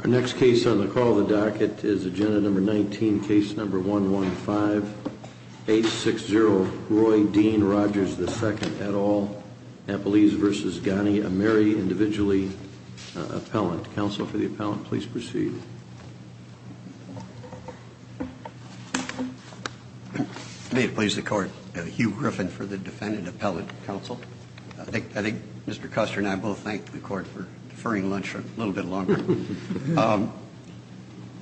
Our next case on the call the docket is agenda number 19 case number one one five eight six zero Roy Dean Rogers the second at all Napolese versus Ghani a Mary individually appellant counsel for the appellant please proceed may it please the court Hugh Griffin for the defendant appellate counsel I think mr. Custer and I both thank the court for deferring lunch for a little bit longer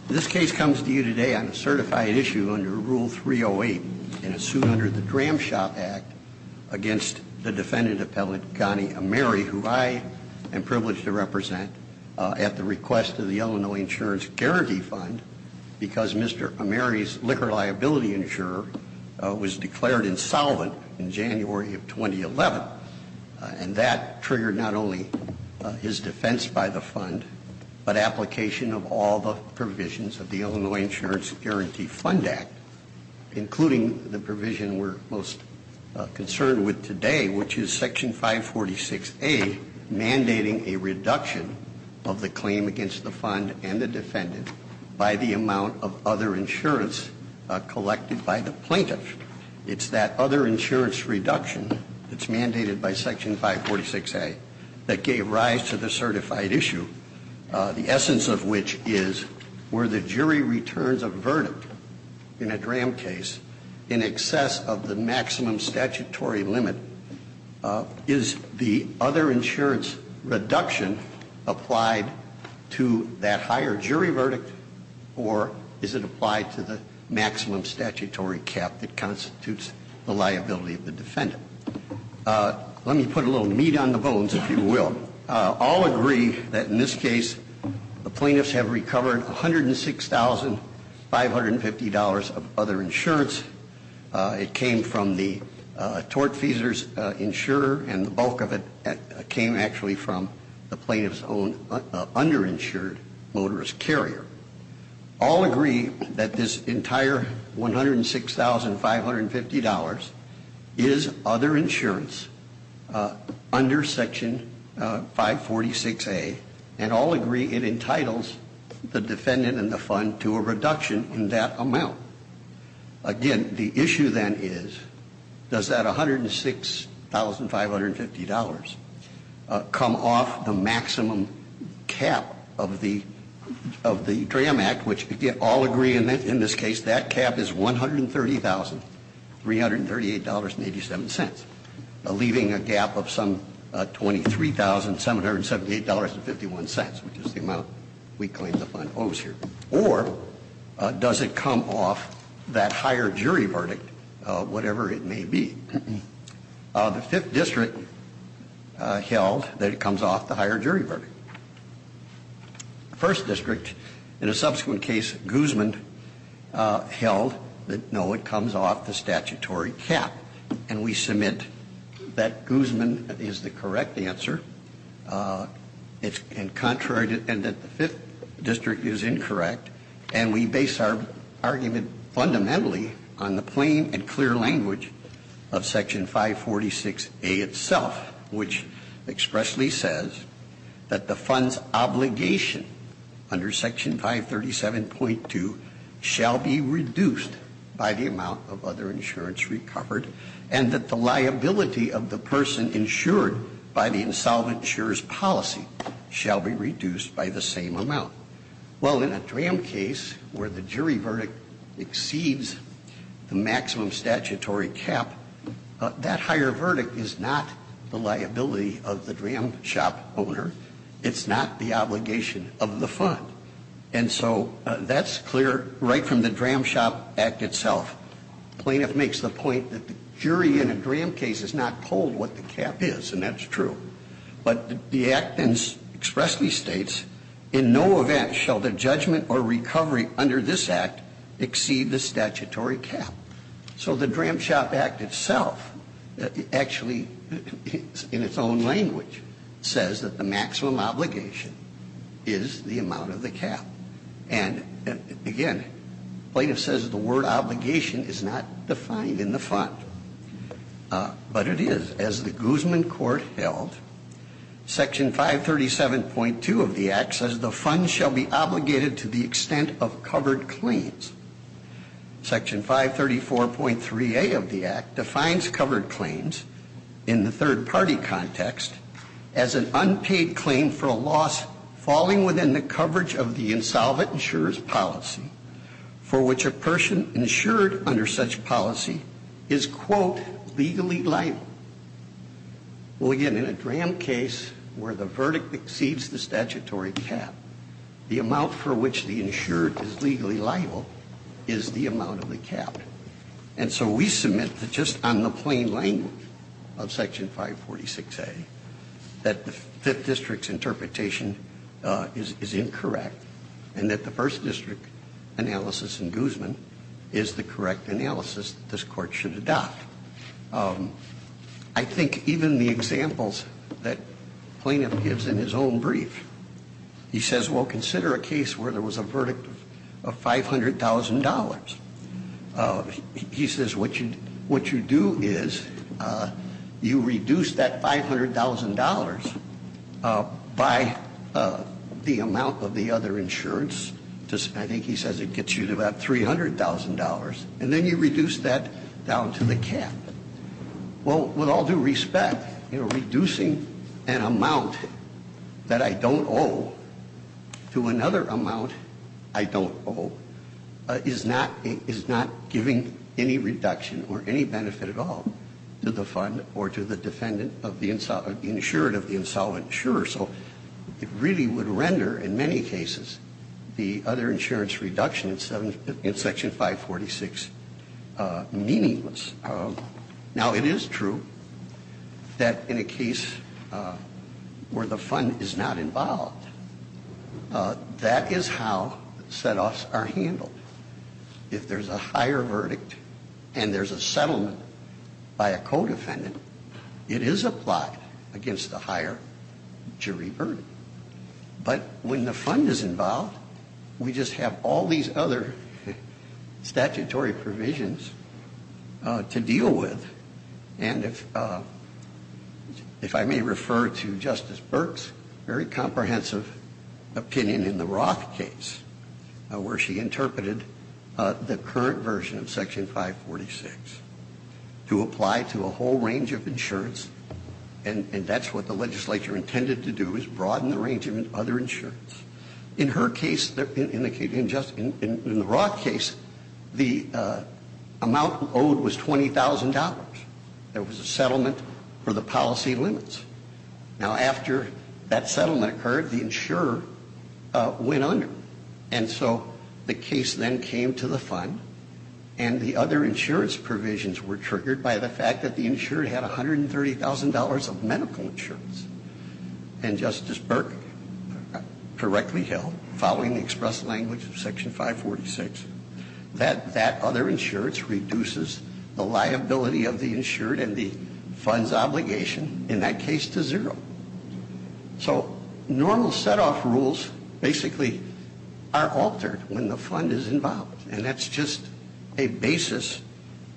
this case comes to you today on a certified issue under rule 308 in a suit under the Dram shop act against the defendant appellant Ghani a Mary who I am privileged to represent at the request of the Illinois Insurance Guarantee Fund because mr. Mary's liquor liability insurer was declared insolvent in January of 2011 and that triggered not only his defense by the fund but application of all the provisions of the Illinois Insurance Guarantee Fund Act including the provision we're most concerned with today which is section 546 a mandating a reduction of the claim against the fund and the defendant by the amount of other insurance collected by the plaintiff it's that other insurance reduction that's mandated by section 546 a that gave rise to the certified issue the essence of which is where the jury returns a verdict in a Dram case in excess of the maximum statutory limit is the other insurance reduction applied to that higher jury verdict or is it applied to the maximum statutory cap that constitutes the liability of the defendant let me put a little on the bones if you will all agree that in this case the plaintiffs have recovered a hundred and six thousand five hundred and fifty dollars of other insurance it came from the tortfeasors insurer and the bulk of it came actually from the plaintiff's own underinsured motorist carrier all agree that this entire $106,550 is other insurance under section 546 a and all agree it entitles the defendant and the fund to a reduction in that amount again the issue then is does that $106,550 come off the maximum cap of the of the Dram Act which again all agree in this case that cap is $130,338.87 leaving a gap of some $23,778.51 which is the amount we claim the fund owes here or does it come off that higher jury verdict whatever it may be the fifth district held that it comes off the higher jury verdict first district in a subsequent case Guzman held that no it comes off the statutory cap and we submit that Guzman is the correct answer it's been contrary to the fifth district is incorrect and we base our argument fundamentally on the plain and clear language of section 546 a itself which expressly says that the funds obligation under section 537.2 shall be reduced by the amount of other insurance recovered and that the liability of the person insured by the insolvent jurist policy shall be reduced by the same amount. Well, in a DRAM case where the jury verdict exceeds the maximum statutory cap, that higher verdict is not the liability of the DRAM shop owner. It's not the obligation of the fund. And so that's clear right from the DRAM shop act itself. Plaintiff makes the point that the jury in a DRAM case is not told what the cap is, and that's true. But the act then expressly states in no event shall the judgment or recovery under this act exceed the statutory cap. So the DRAM shop act itself actually in its own language says that the maximum obligation is the amount of the cap. And again, plaintiff says the word obligation is not defined in the fund. But it is. As the Guzman court held, section 537.2 of the act says the fund shall be obligated to the extent of covered claims. Section 534.3a of the act defines covered claims in the third party context as an unpaid claim for a loss falling within the coverage of the insolvent insurance policy for which a person insured under such policy is, quote, legally liable. Well, again, in a DRAM case where the verdict exceeds the statutory cap, the amount for which the insured is legally liable is the amount of the cap. And so we submit that just on the plain language of section 546a, that the Fifth District's analysis is incorrect and that the First District analysis in Guzman is the correct analysis that this court should adopt. I think even the examples that plaintiff gives in his own brief, he says, well, consider a case where there was a verdict of $500,000. He says what you do is you reduce that $500,000 by the amount of the other insurance. I think he says it gets you to about $300,000. And then you reduce that down to the cap. Well, with all due respect, reducing an amount that I don't owe to another amount I don't owe is not giving any reduction or any benefit at all to the fund or to the defendant of the insured of the insolvent insurer. So it really would render, in many cases, the other insurance reduction in section 546 meaningless. Now, it is true that in a case where the fund is not involved, that is how set-offs are handled. If there's a higher verdict and there's a settlement by a co-defendant, it is applied against the higher jury verdict. But when the fund is involved, we just have all these other statutory provisions to deal with. And if I may refer to Justice Burke's very comprehensive opinion in the Roth case, where she interpreted the current version of section 546 to apply to a whole range of insurance, and that's what the legislature intended to do is broaden the range of other insurance. In her case, in the Roth case, the amount owed was $20,000. There was a settlement for the policy limits. Now, after that settlement occurred, the insurer went under. And so the case then came to the fund, and the other insurance provisions were triggered by the fact that the insurer had $130,000 of medical insurance. And Justice Burke correctly held, following the express language of section 546, that that other insurance reduces the liability of the insured and the fund's obligation, in that case, to zero. So normal set-off rules basically are altered when the fund is involved. And that's just a basis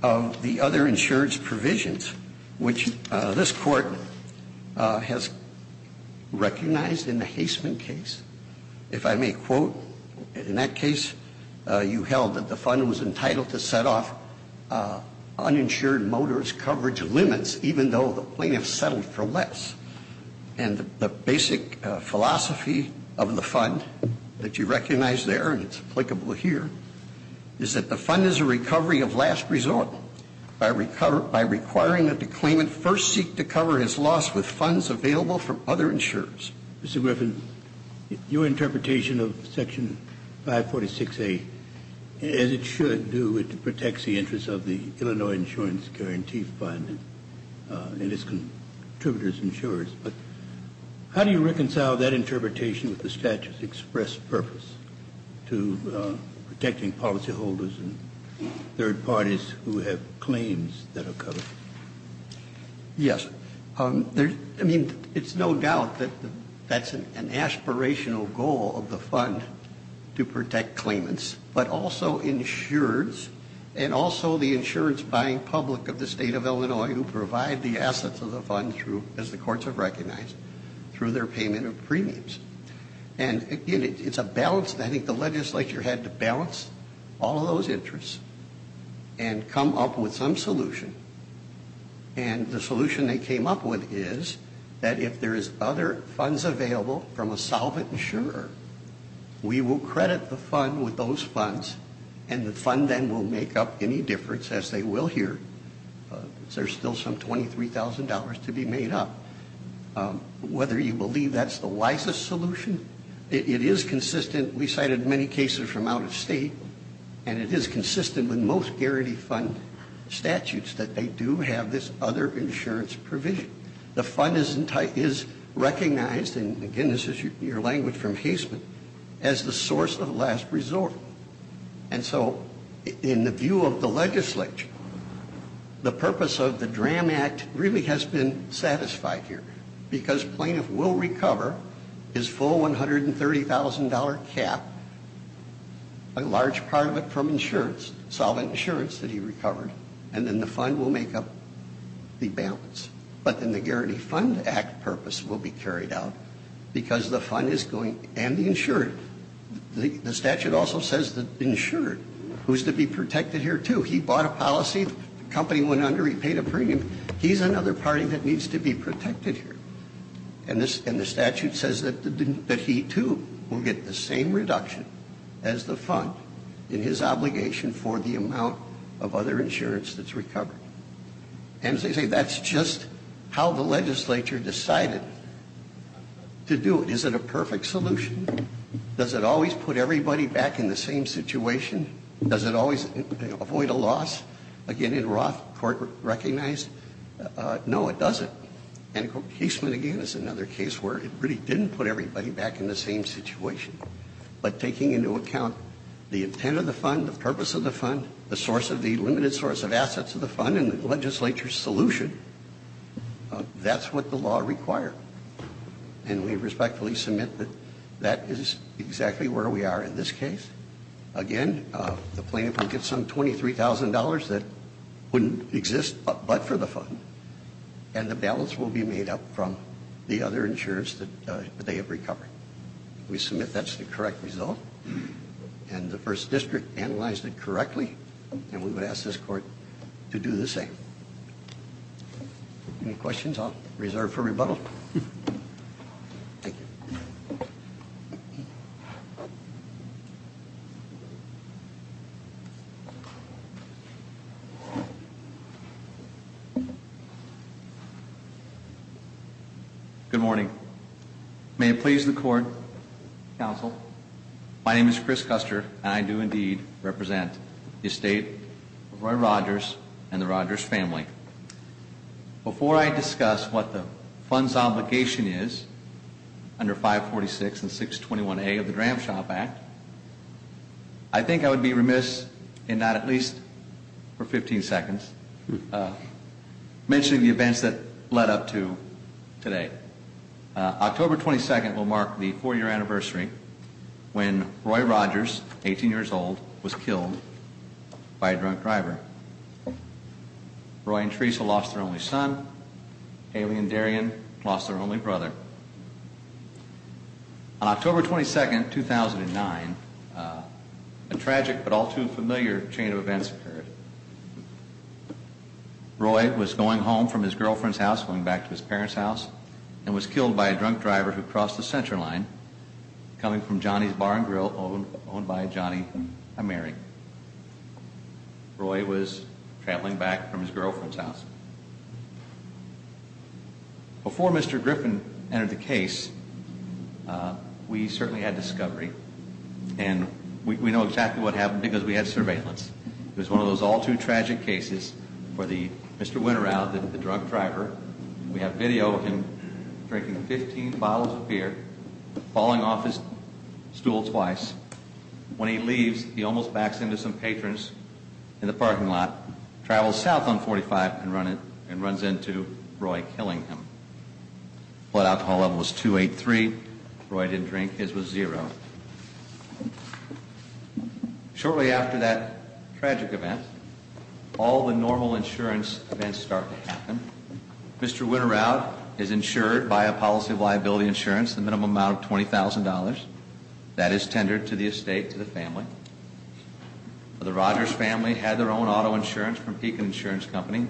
of the other insurance provisions, which this Court has recognized in the Haisman case. If I may quote, in that case you held that the fund was entitled to set off uninsured motorist coverage limits, even though the plaintiff settled for less. And the basic philosophy of the fund that you recognize there, and it's applicable here, is that the fund is a recovery of last resort by requiring that the claimant first seek to cover his loss with funds available from other insurers. Mr. Griffin, your interpretation of section 546A, as it should do, protects the interests of the Illinois Insurance Guarantee Fund and its contributors and insurers. But how do you reconcile that interpretation with the statute's express purpose to protecting policyholders and third parties who have claims that are covered? Yes. I mean, it's no doubt that that's an aspirational goal of the fund, to protect insurers and also the insurance-buying public of the state of Illinois who provide the assets of the fund, as the courts have recognized, through their payment of premiums. And, again, it's a balance that I think the legislature had to balance all of those interests and come up with some solution. And the solution they came up with is that if there is other funds available from insurer, we will credit the fund with those funds, and the fund then will make up any difference, as they will here. There's still some $23,000 to be made up. Whether you believe that's the wisest solution, it is consistent. We cited many cases from out of state, and it is consistent with most guarantee fund statutes that they do have this other insurance provision. The fund is recognized, and, again, this is your language from Haseman, as the source of last resort. And so, in the view of the legislature, the purpose of the DRAM Act really has been satisfied here, because plaintiff will recover his full $130,000 cap, a large part of it from insurance, solid insurance that he recovered, and then the fund will make up the cap, and the Guarantee Fund Act purpose will be carried out, because the fund is going and the insurer. The statute also says the insurer, who is to be protected here, too. He bought a policy, the company went under, he paid a premium. He's another party that needs to be protected here. And the statute says that he, too, will get the same reduction as the fund in his obligation for the amount of other insurance that's recovered. And as I say, that's just how the legislature decided to do it. Is it a perfect solution? Does it always put everybody back in the same situation? Does it always avoid a loss? Again, in Roth, court recognized, no, it doesn't. And Haseman, again, is another case where it really didn't put everybody back in the same situation, but taking into account the intent of the fund, the purpose of the fund, and the legislature's solution, that's what the law required. And we respectfully submit that that is exactly where we are in this case. Again, the plaintiff will get some $23,000 that wouldn't exist but for the fund, and the balance will be made up from the other insurance that they have recovered. We submit that's the correct result, and the First District analyzed it correctly, and we would ask this court to do the same. Any questions? I'll reserve for rebuttal. Thank you. Good morning. May it please the court, counsel. My name is Chris Custer, and I do indeed represent the estate of Roy Rogers and the Rogers family. Before I discuss what the fund's obligation is under 546 and 621A of the Dram Shop Act, I think I would be remiss in not at least for 15 seconds mentioning the events that led up to today. October 22nd will mark the four-year anniversary when Roy Rogers, 18 years old, was killed by a drunk driver. Roy and Teresa lost their only son. Haley and Darian lost their only brother. On October 22nd, 2009, a tragic but all too familiar chain of events occurred. Roy was going home from his girlfriend's house, going back to his parents' house, and was killed by a drunk driver who crossed the center line coming from Johnny's Bar and Grill, owned by Johnny and Mary. Roy was traveling back from his girlfriend's house. Before Mr. Griffin entered the case, we certainly had discovery, and we know exactly what happened because we had surveillance. It was one of those all-too-tragic cases where Mr. Winterow did the drunk driver. We have video of him drinking 15 bottles of beer, falling off his stool twice. When he leaves, he almost backs into some patrons in the parking lot, travels south on 45 and runs into Roy killing him. Blood alcohol level was 283. Roy didn't drink. His was zero. Shortly after that tragic event, all the normal insurance events start to happen. Mr. Winterow is insured by a policy of liability insurance, the minimum amount of $20,000. That is tendered to the estate, to the family. The Rogers family had their own auto insurance from Pekin Insurance Company.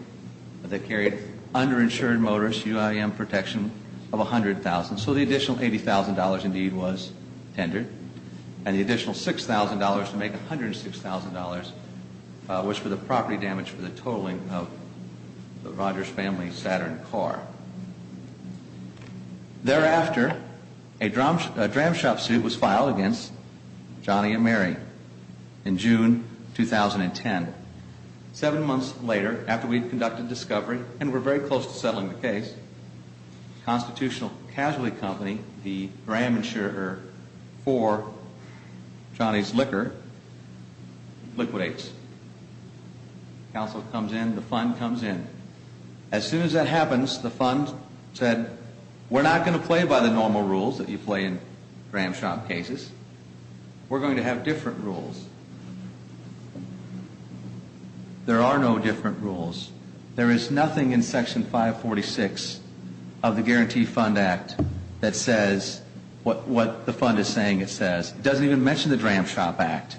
They carried underinsured motorist UIM protection of $100,000. So the additional $80,000 indeed was tendered, and the additional $6,000 to make $106,000 was for the property damage for the totaling of the Rogers family's Saturn car. Thereafter, a dram shop suit was filed against Johnny and Mary in June 2010. Seven months later, after we had conducted discovery and were very close to settling the case, the Constitutional Casualty Company, the dram insurer for Johnny's liquor, liquidates. Counsel comes in. The fund comes in. As soon as that happens, the fund said, we're not going to play by the normal rules that you play in dram shop cases. We're going to have different rules. There are no different rules. There is nothing in Section 546 of the Guarantee Fund Act that says what the fund is saying it says. It doesn't even mention the Dram Shop Act.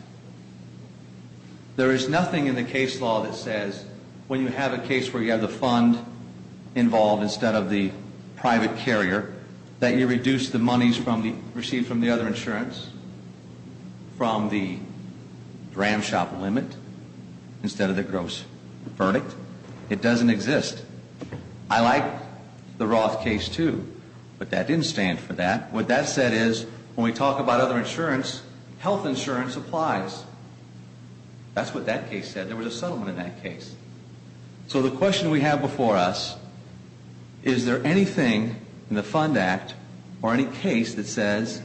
There is nothing in the case law that says when you have a case where you have the fund involved instead of the private carrier, that you reduce the monies received from the other insurance from the dram shop limit instead of the gross verdict. It doesn't exist. I like the Roth case too, but that didn't stand for that. What that said is when we talk about other insurance, health insurance applies. That's what that case said. There was a settlement in that case. So the question we have before us, is there anything in the Fund Act or any case that says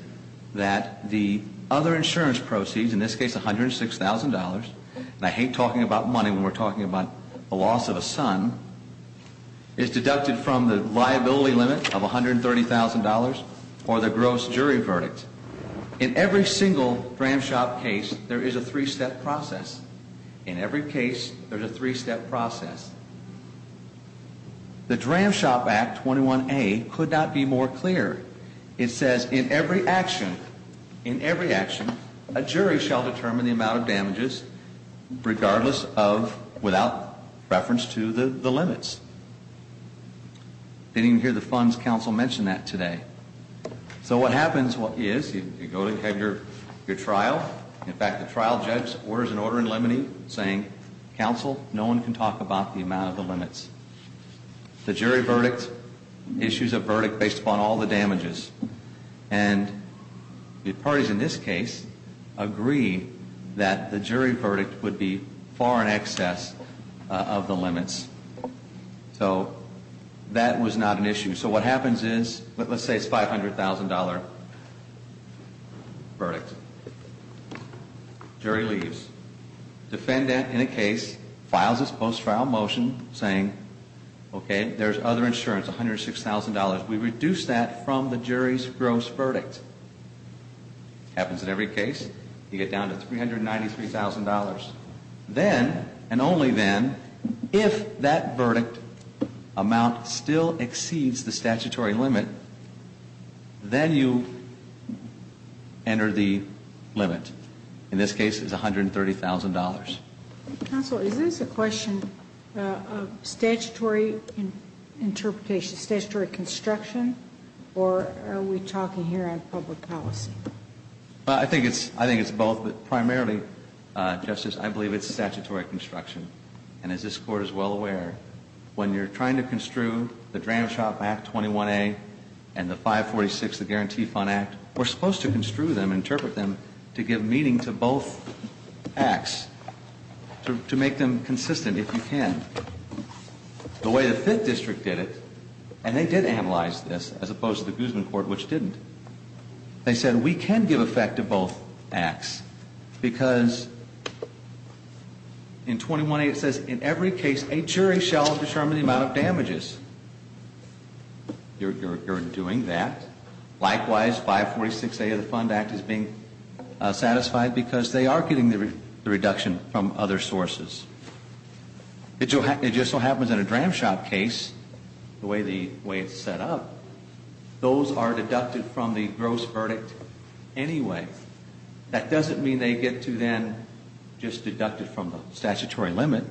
that the other insurance proceeds, in this case $106,000, and I hate talking about money when we're talking about the loss of a son, is deducted from the liability limit of $130,000 or the gross jury verdict. In every single dram shop case, there is a three-step process. In every case, there is a three-step process. The Dram Shop Act 21A could not be more clear. It says in every action, in every action, a jury shall determine the amount of damages regardless of, without reference to the limits. Didn't even hear the funds council mention that today. So what happens is you go ahead and have your trial. In fact, the trial judge orders an order in limine saying, counsel, no one can talk about the amount of the limits. The jury verdict issues a verdict based upon all the damages. And the parties in this case agree that the jury verdict would be far in excess of the limits. So that was not an issue. So what happens is, let's say it's $500,000 verdict. Jury leaves. Defendant in a case files his post-trial motion saying, okay, there's other insurance, $106,000. We reduce that from the jury's gross verdict. Happens in every case. You get down to $393,000. Then, and only then, if that verdict amount still exceeds the statutory limit, then you enter the limit. In this case, it's $130,000. Counsel, is this a question of statutory interpretation, statutory construction, or are we talking here on public policy? I think it's both. But primarily, Justice, I believe it's statutory construction. And as this Court is well aware, when you're trying to construe the Dram Shop Act 21A and the 546, the Guarantee Fund Act, we're supposed to construe them, interpret them, to give meaning to both acts, to make them consistent if you can. The way the Fifth District did it, and they did analyze this, as opposed to the Guzman Court, which didn't. They said, we can give effect to both acts because in 21A it says, in every case, a jury shall determine the amount of damages. You're doing that. Likewise, 546A of the Fund Act is being satisfied because they are getting the reduction from other sources. It just so happens that a Dram Shop case, the way it's set up, those are deducted from the gross verdict anyway. That doesn't mean they get to then just deduct it from the statutory limit.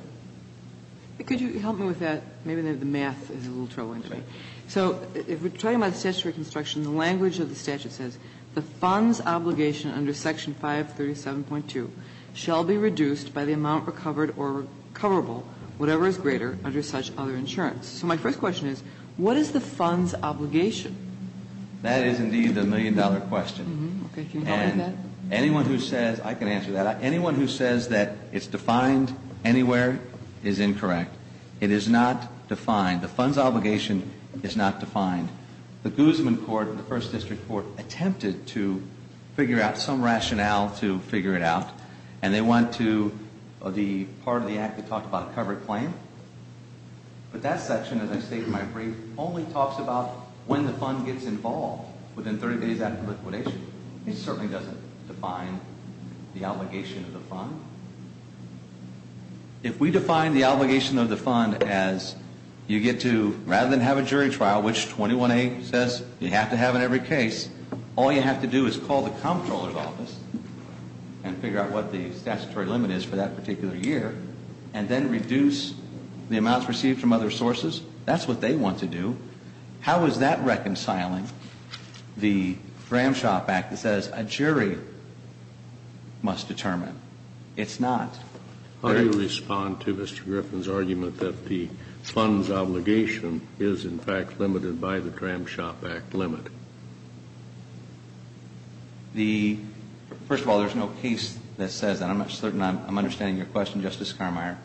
Could you help me with that? Maybe the math is a little troubling to me. So if we're talking about statutory construction, the language of the statute says, the fund's obligation under Section 537.2 shall be reduced by the amount recovered or recoverable, whatever is greater, under such other insurance. So my first question is, what is the fund's obligation? That is indeed the million-dollar question. Okay. Can you help me with that? Anyone who says, I can answer that. Anyone who says that it's defined anywhere is incorrect. It is not defined. The fund's obligation is not defined. The Guzman Court, the First District Court, attempted to figure out some rationale to figure it out, and they went to the part of the act that talked about a covered claim. But that section, as I state in my brief, only talks about when the fund gets involved within 30 days after liquidation. It certainly doesn't define the obligation of the fund. If we define the obligation of the fund as you get to, rather than have a jury trial, which 21A says you have to have in every case, all you have to do is call the comptroller's office and figure out what the statutory limit is for that particular year, and then reduce the amounts received from other sources, that's what they want to do. How is that reconciling the Dram Shop Act that says a jury must determine? It's not. How do you respond to Mr. Griffin's argument that the fund's obligation is, in fact, limited by the Dram Shop Act limit? First of all, there's no case that says that. I'm not certain I'm understanding your question, Justice Carmier.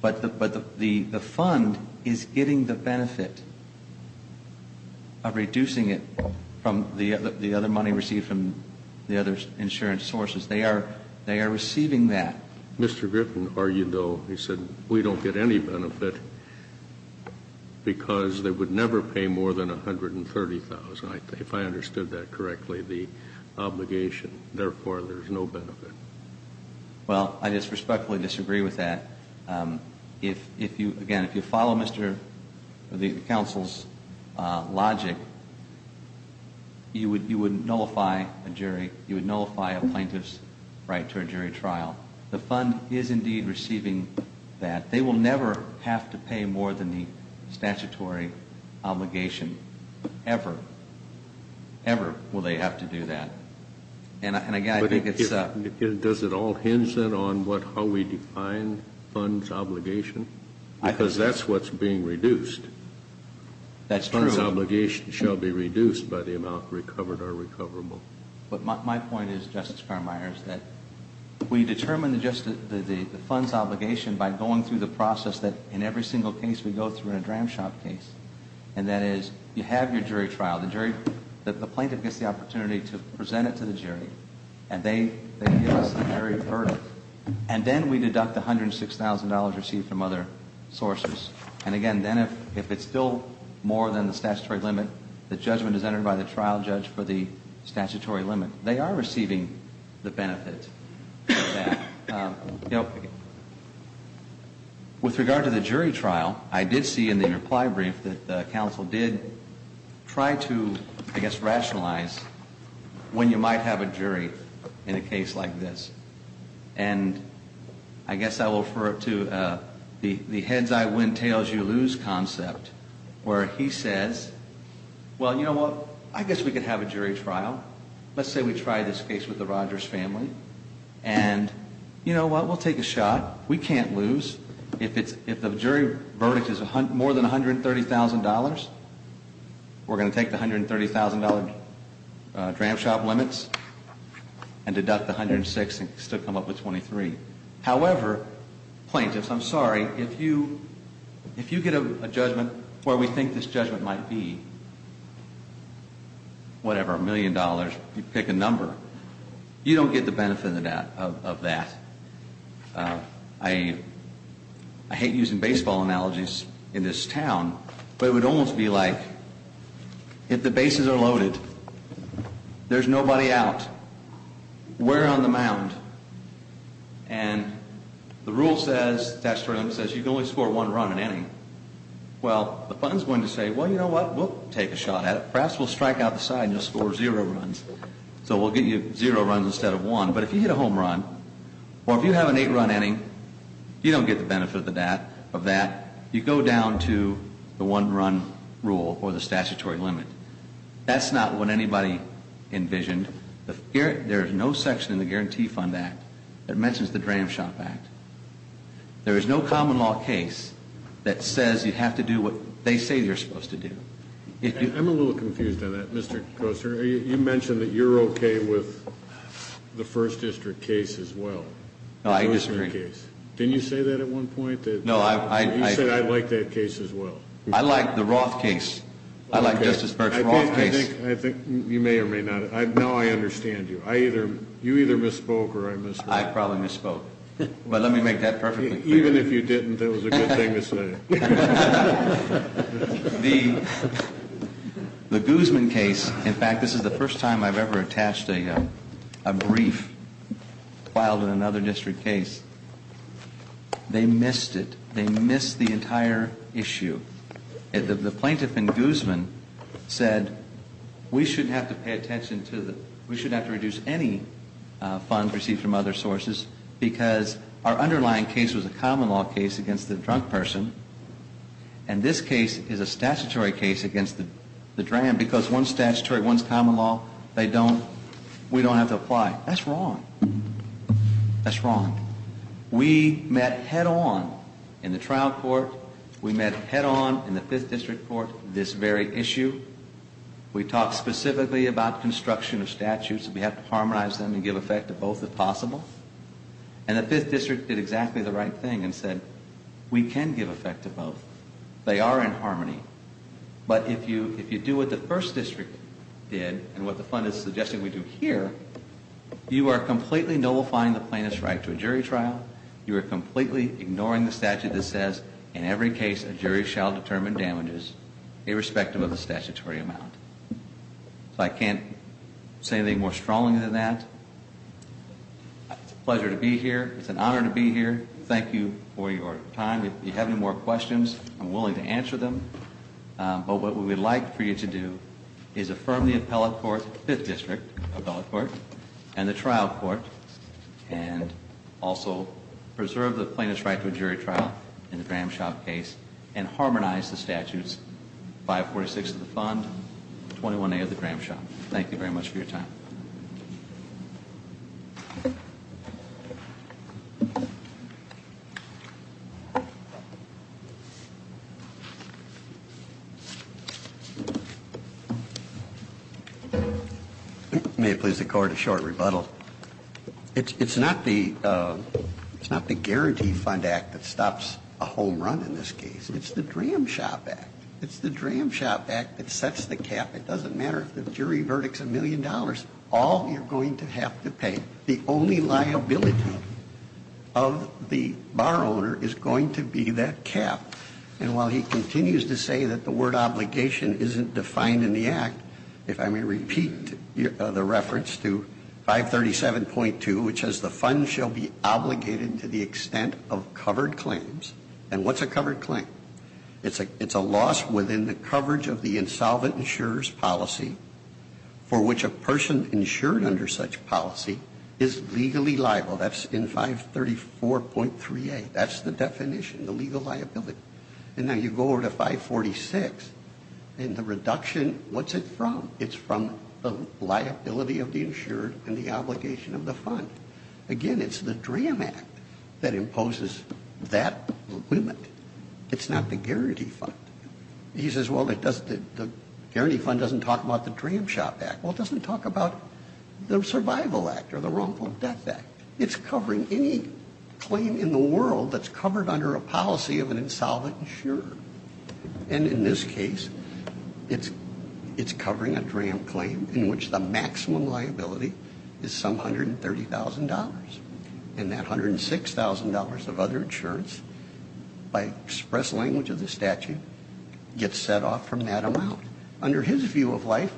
But the fund is getting the benefit of reducing it from the other money received from the other insurance sources. They are receiving that. Mr. Griffin argued, though, he said, we don't get any benefit because they would never pay more than $130,000, if I understood that correctly, the obligation. Therefore, there's no benefit. Well, I just respectfully disagree with that. Again, if you follow the counsel's logic, you would nullify a plaintiff's right to a jury trial. The fund is indeed receiving that. They will never have to pay more than the statutory obligation. Ever. Ever will they have to do that. And, again, I think it's- Does it all hinge then on how we define fund's obligation? Because that's what's being reduced. That's true. Fund's obligation shall be reduced by the amount recovered or recoverable. But my point is, Justice Carmier, is that we determine the fund's obligation by going through the process that, in every single case we go through in a dram shop case. And that is, you have your jury trial. The jury-the plaintiff gets the opportunity to present it to the jury. And they give us the jury verdict. And then we deduct the $106,000 received from other sources. And, again, then if it's still more than the statutory limit, the judgment is entered by the trial judge for the statutory limit. They are receiving the benefit of that. You know, with regard to the jury trial, I did see in the reply brief that the counsel did try to, I guess, rationalize when you might have a jury in a case like this. And I guess I will refer to the heads-I-win-tails-you-lose concept, where he says, well, you know what? I guess we could have a jury trial. Let's say we try this case with the Rogers family. And, you know what? We'll take a shot. We can't lose. If the jury verdict is more than $130,000, we're going to take the $130,000 dram shop limits and deduct the $106,000 and still come up with $23,000. However, plaintiffs, I'm sorry, if you get a judgment where we think this judgment might be, whatever, a million dollars, you pick a number, you don't get the benefit of that. I hate using baseball analogies in this town, but it would almost be like if the bases are loaded, there's nobody out, we're on the mound, and the rule says, the statute of limits says you can only score one run an inning. Well, the fund's going to say, well, you know what? We'll take a shot at it. Perhaps we'll strike out the side and you'll score zero runs. So we'll give you zero runs instead of one. But if you hit a home run or if you have an eight-run inning, you don't get the benefit of that. You go down to the one-run rule or the statutory limit. That's not what anybody envisioned. There is no section in the Guarantee Fund Act that mentions the Dram Shop Act. There is no common law case that says you have to do what they say you're supposed to do. I'm a little confused on that, Mr. Koster. You mentioned that you're okay with the First District case as well. No, I disagree. Didn't you say that at one point? You said, I'd like that case as well. I like the Roth case. I like Justice Birch's Roth case. I think you may or may not. Now I understand you. You either misspoke or I misheard. I probably misspoke. But let me make that perfectly clear. Even if you didn't, that was a good thing to say. The Guzman case, in fact, this is the first time I've ever attached a brief filed in another district case. They missed it. They missed the entire issue. The plaintiff in Guzman said, we shouldn't have to pay attention to the, we shouldn't have to reduce any funds received from other sources because our underlying case was a common law case against the drunk person. And this case is a statutory case against the dram because one's statutory, one's common law. We don't have to apply. That's wrong. That's wrong. We met head-on in the trial court. We met head-on in the Fifth District Court this very issue. We talked specifically about construction of statutes. We have to harmonize them and give effect to both if possible. And the Fifth District did exactly the right thing and said we can give effect to both. They are in harmony. But if you do what the First District did and what the fund is suggesting we do here, you are completely nullifying the plaintiff's right to a jury trial. You are completely ignoring the statute that says in every case a jury shall determine damages irrespective of the statutory amount. I can't say anything more strongly than that. It's a pleasure to be here. It's an honor to be here. Thank you for your time. If you have any more questions, I'm willing to answer them. But what we would like for you to do is affirm the appellate court, Fifth District appellate court, and the trial court, and also preserve the plaintiff's right to a jury trial in the dram shop case and harmonize the statutes 546 of the fund, 21A of the dram shop. Thank you very much for your time. May it please the court a short rebuttal. It's not the Guarantee Fund Act that stops a home run in this case. It's the Dram Shop Act. It's the Dram Shop Act that sets the cap. It doesn't matter if the jury verdict's a million dollars. All you're going to have to pay, the only liability of the bar owner is going to be that cap. And while he continues to say that the word obligation isn't defined in the act, if I may repeat the reference to 537.2, which says, The fund shall be obligated to the extent of covered claims. And what's a covered claim? It's a loss within the coverage of the insolvent insurer's policy for which a person insured under such policy is legally liable. That's in 534.3A. That's the definition, the legal liability. And now you go over to 546, and the reduction, what's it from? It's from the liability of the insured and the obligation of the fund. Again, it's the Dram Act that imposes that limit. It's not the Guarantee Fund. He says, well, the Guarantee Fund doesn't talk about the Dram Shop Act. Well, it doesn't talk about the Survival Act or the Wrongful Death Act. It's covering any claim in the world that's covered under a policy of an insolvent insurer. And in this case, it's covering a Dram claim in which the maximum liability is some $130,000. And that $106,000 of other insurance, by express language of the statute, gets set off from that amount. Under his view of life,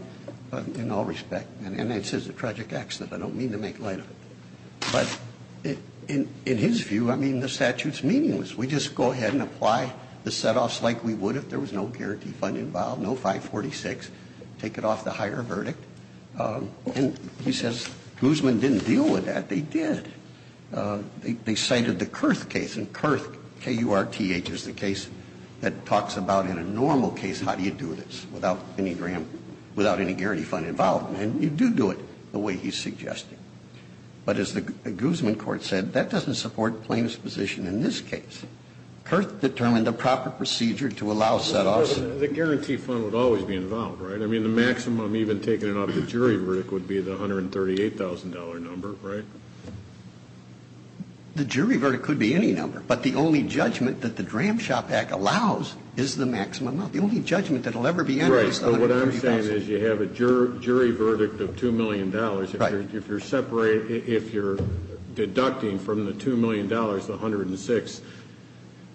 in all respect, And it's a tragic accident. I don't mean to make light of it. But in his view, I mean, the statute's meaningless. We just go ahead and apply the set-offs like we would if there was no Guarantee Fund involved, no 546. Take it off the higher verdict. And he says Guzman didn't deal with that. They did. They cited the Kurth case, and Kurth, K-U-R-T-H, is the case that talks about in a normal case, how do you do this without any guarantee fund involved? And you do do it the way he's suggesting. But as the Guzman court said, that doesn't support plaintiff's position in this case. Kurth determined the proper procedure to allow set-offs. The Guarantee Fund would always be involved, right? I mean, the maximum, even taking it off the jury verdict, would be the $138,000 number, right? The jury verdict could be any number. But the only judgment that the Dram Shop Act allows is the maximum amount. The only judgment that will ever be entered is the $138,000. Right. But what I'm saying is you have a jury verdict of $2 million. Right. If you're separating, if you're deducting from the $2 million, the $106,000,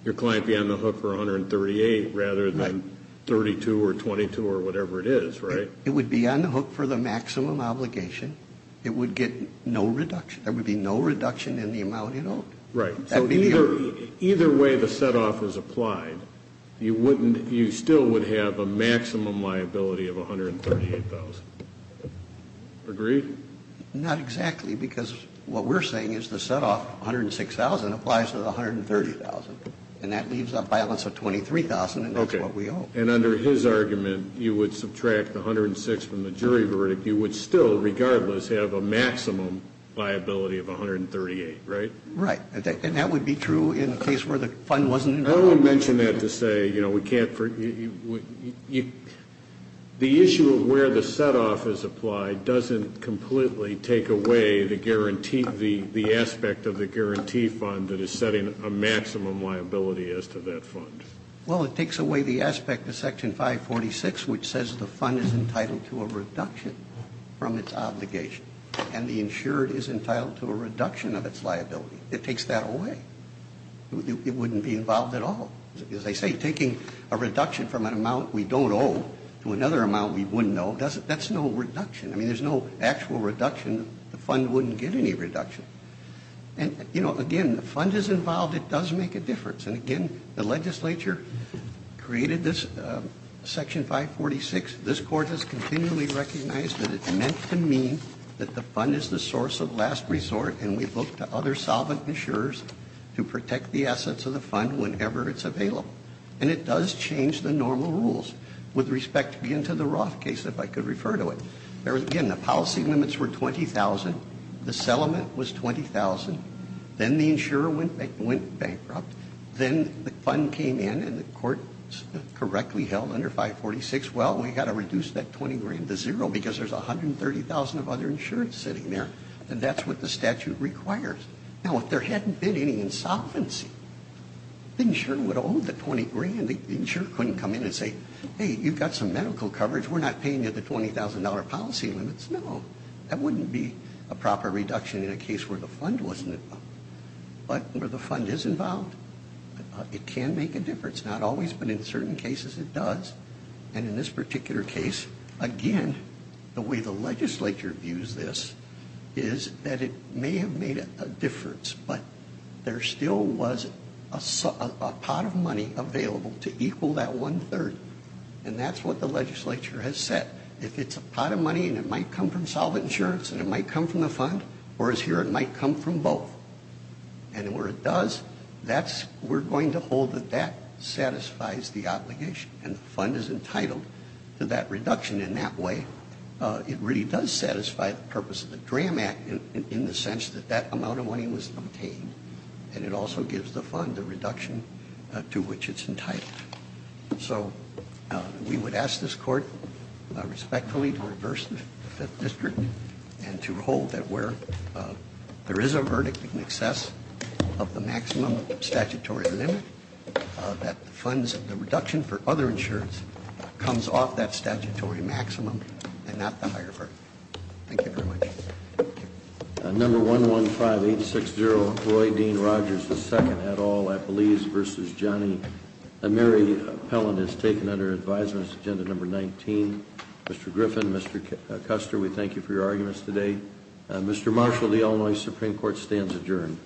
your client would be on the hook for $138,000 rather than $32,000 or $22,000 or whatever it is, right? It would be on the hook for the maximum obligation. It would get no reduction. There would be no reduction in the amount it owed. Right. So either way the set-off is applied, you wouldn't, you still would have a maximum liability of $138,000. Agreed? Not exactly, because what we're saying is the set-off, $106,000, applies to the $130,000. And that leaves a balance of $23,000, and that's what we owe. Okay. And under his argument, you would subtract the $106,000 from the jury verdict. You would still, regardless, have a maximum liability of $138,000, right? Right. And that would be true in a case where the fund wasn't involved. I don't want to mention that to say, you know, we can't, the issue of where the set-off is applied doesn't completely take away the guarantee, the aspect of the guarantee fund that is setting a maximum liability as to that fund. Well, it takes away the aspect of Section 546, which says the fund is entitled to a reduction from its obligation, and the insured is entitled to a reduction of its liability. It takes that away. It wouldn't be involved at all. As I say, taking a reduction from an amount we don't owe to another amount we wouldn't owe, that's no reduction. I mean, there's no actual reduction. The fund wouldn't get any reduction. And, you know, again, the fund is involved. It does make a difference. And, again, the legislature created this Section 546. This Court has continually recognized that it's meant to mean that the fund is the source of last resort, and we book to other solvent insurers to protect the assets of the fund whenever it's available. And it does change the normal rules. With respect, again, to the Roth case, if I could refer to it, again, the policy limits were $20,000. The settlement was $20,000. Then the insurer went bankrupt. Then the fund came in, and the Court correctly held under 546, well, we've got to reduce that $20,000 to zero because there's $130,000 of other insurance sitting there. And that's what the statute requires. Now, if there hadn't been any insolvency, the insurer would owe the $20,000. The insurer couldn't come in and say, hey, you've got some medical coverage. We're not paying you the $20,000 policy limits. No, that wouldn't be a proper reduction in a case where the fund wasn't involved. But where the fund is involved, it can make a difference. Not always, but in certain cases it does. And in this particular case, again, the way the legislature views this is that it may have made a difference, but there still was a pot of money available to equal that one-third. And that's what the legislature has said. If it's a pot of money and it might come from solvent insurance and it might come from the fund, whereas here it might come from both, and where it does, we're going to hold that that satisfies the obligation and the fund is entitled to that reduction in that way. It really does satisfy the purpose of the DRAM Act in the sense that that amount of money was obtained and it also gives the fund the reduction to which it's entitled. So we would ask this court respectfully to reverse the Fifth District and to hold that where there is a verdict in excess of the maximum statutory limit, that the reduction for other insurance comes off that statutory maximum and not the higher verdict. Thank you very much. Thank you. Number 115860, Roy Dean Rogers II, et al., I believe, v. Johnny. Mary Pellin is taken under advisement. This is agenda number 19. Mr. Griffin, Mr. Custer, we thank you for your arguments today. Mr. Marshall, the Illinois Supreme Court stands adjourned.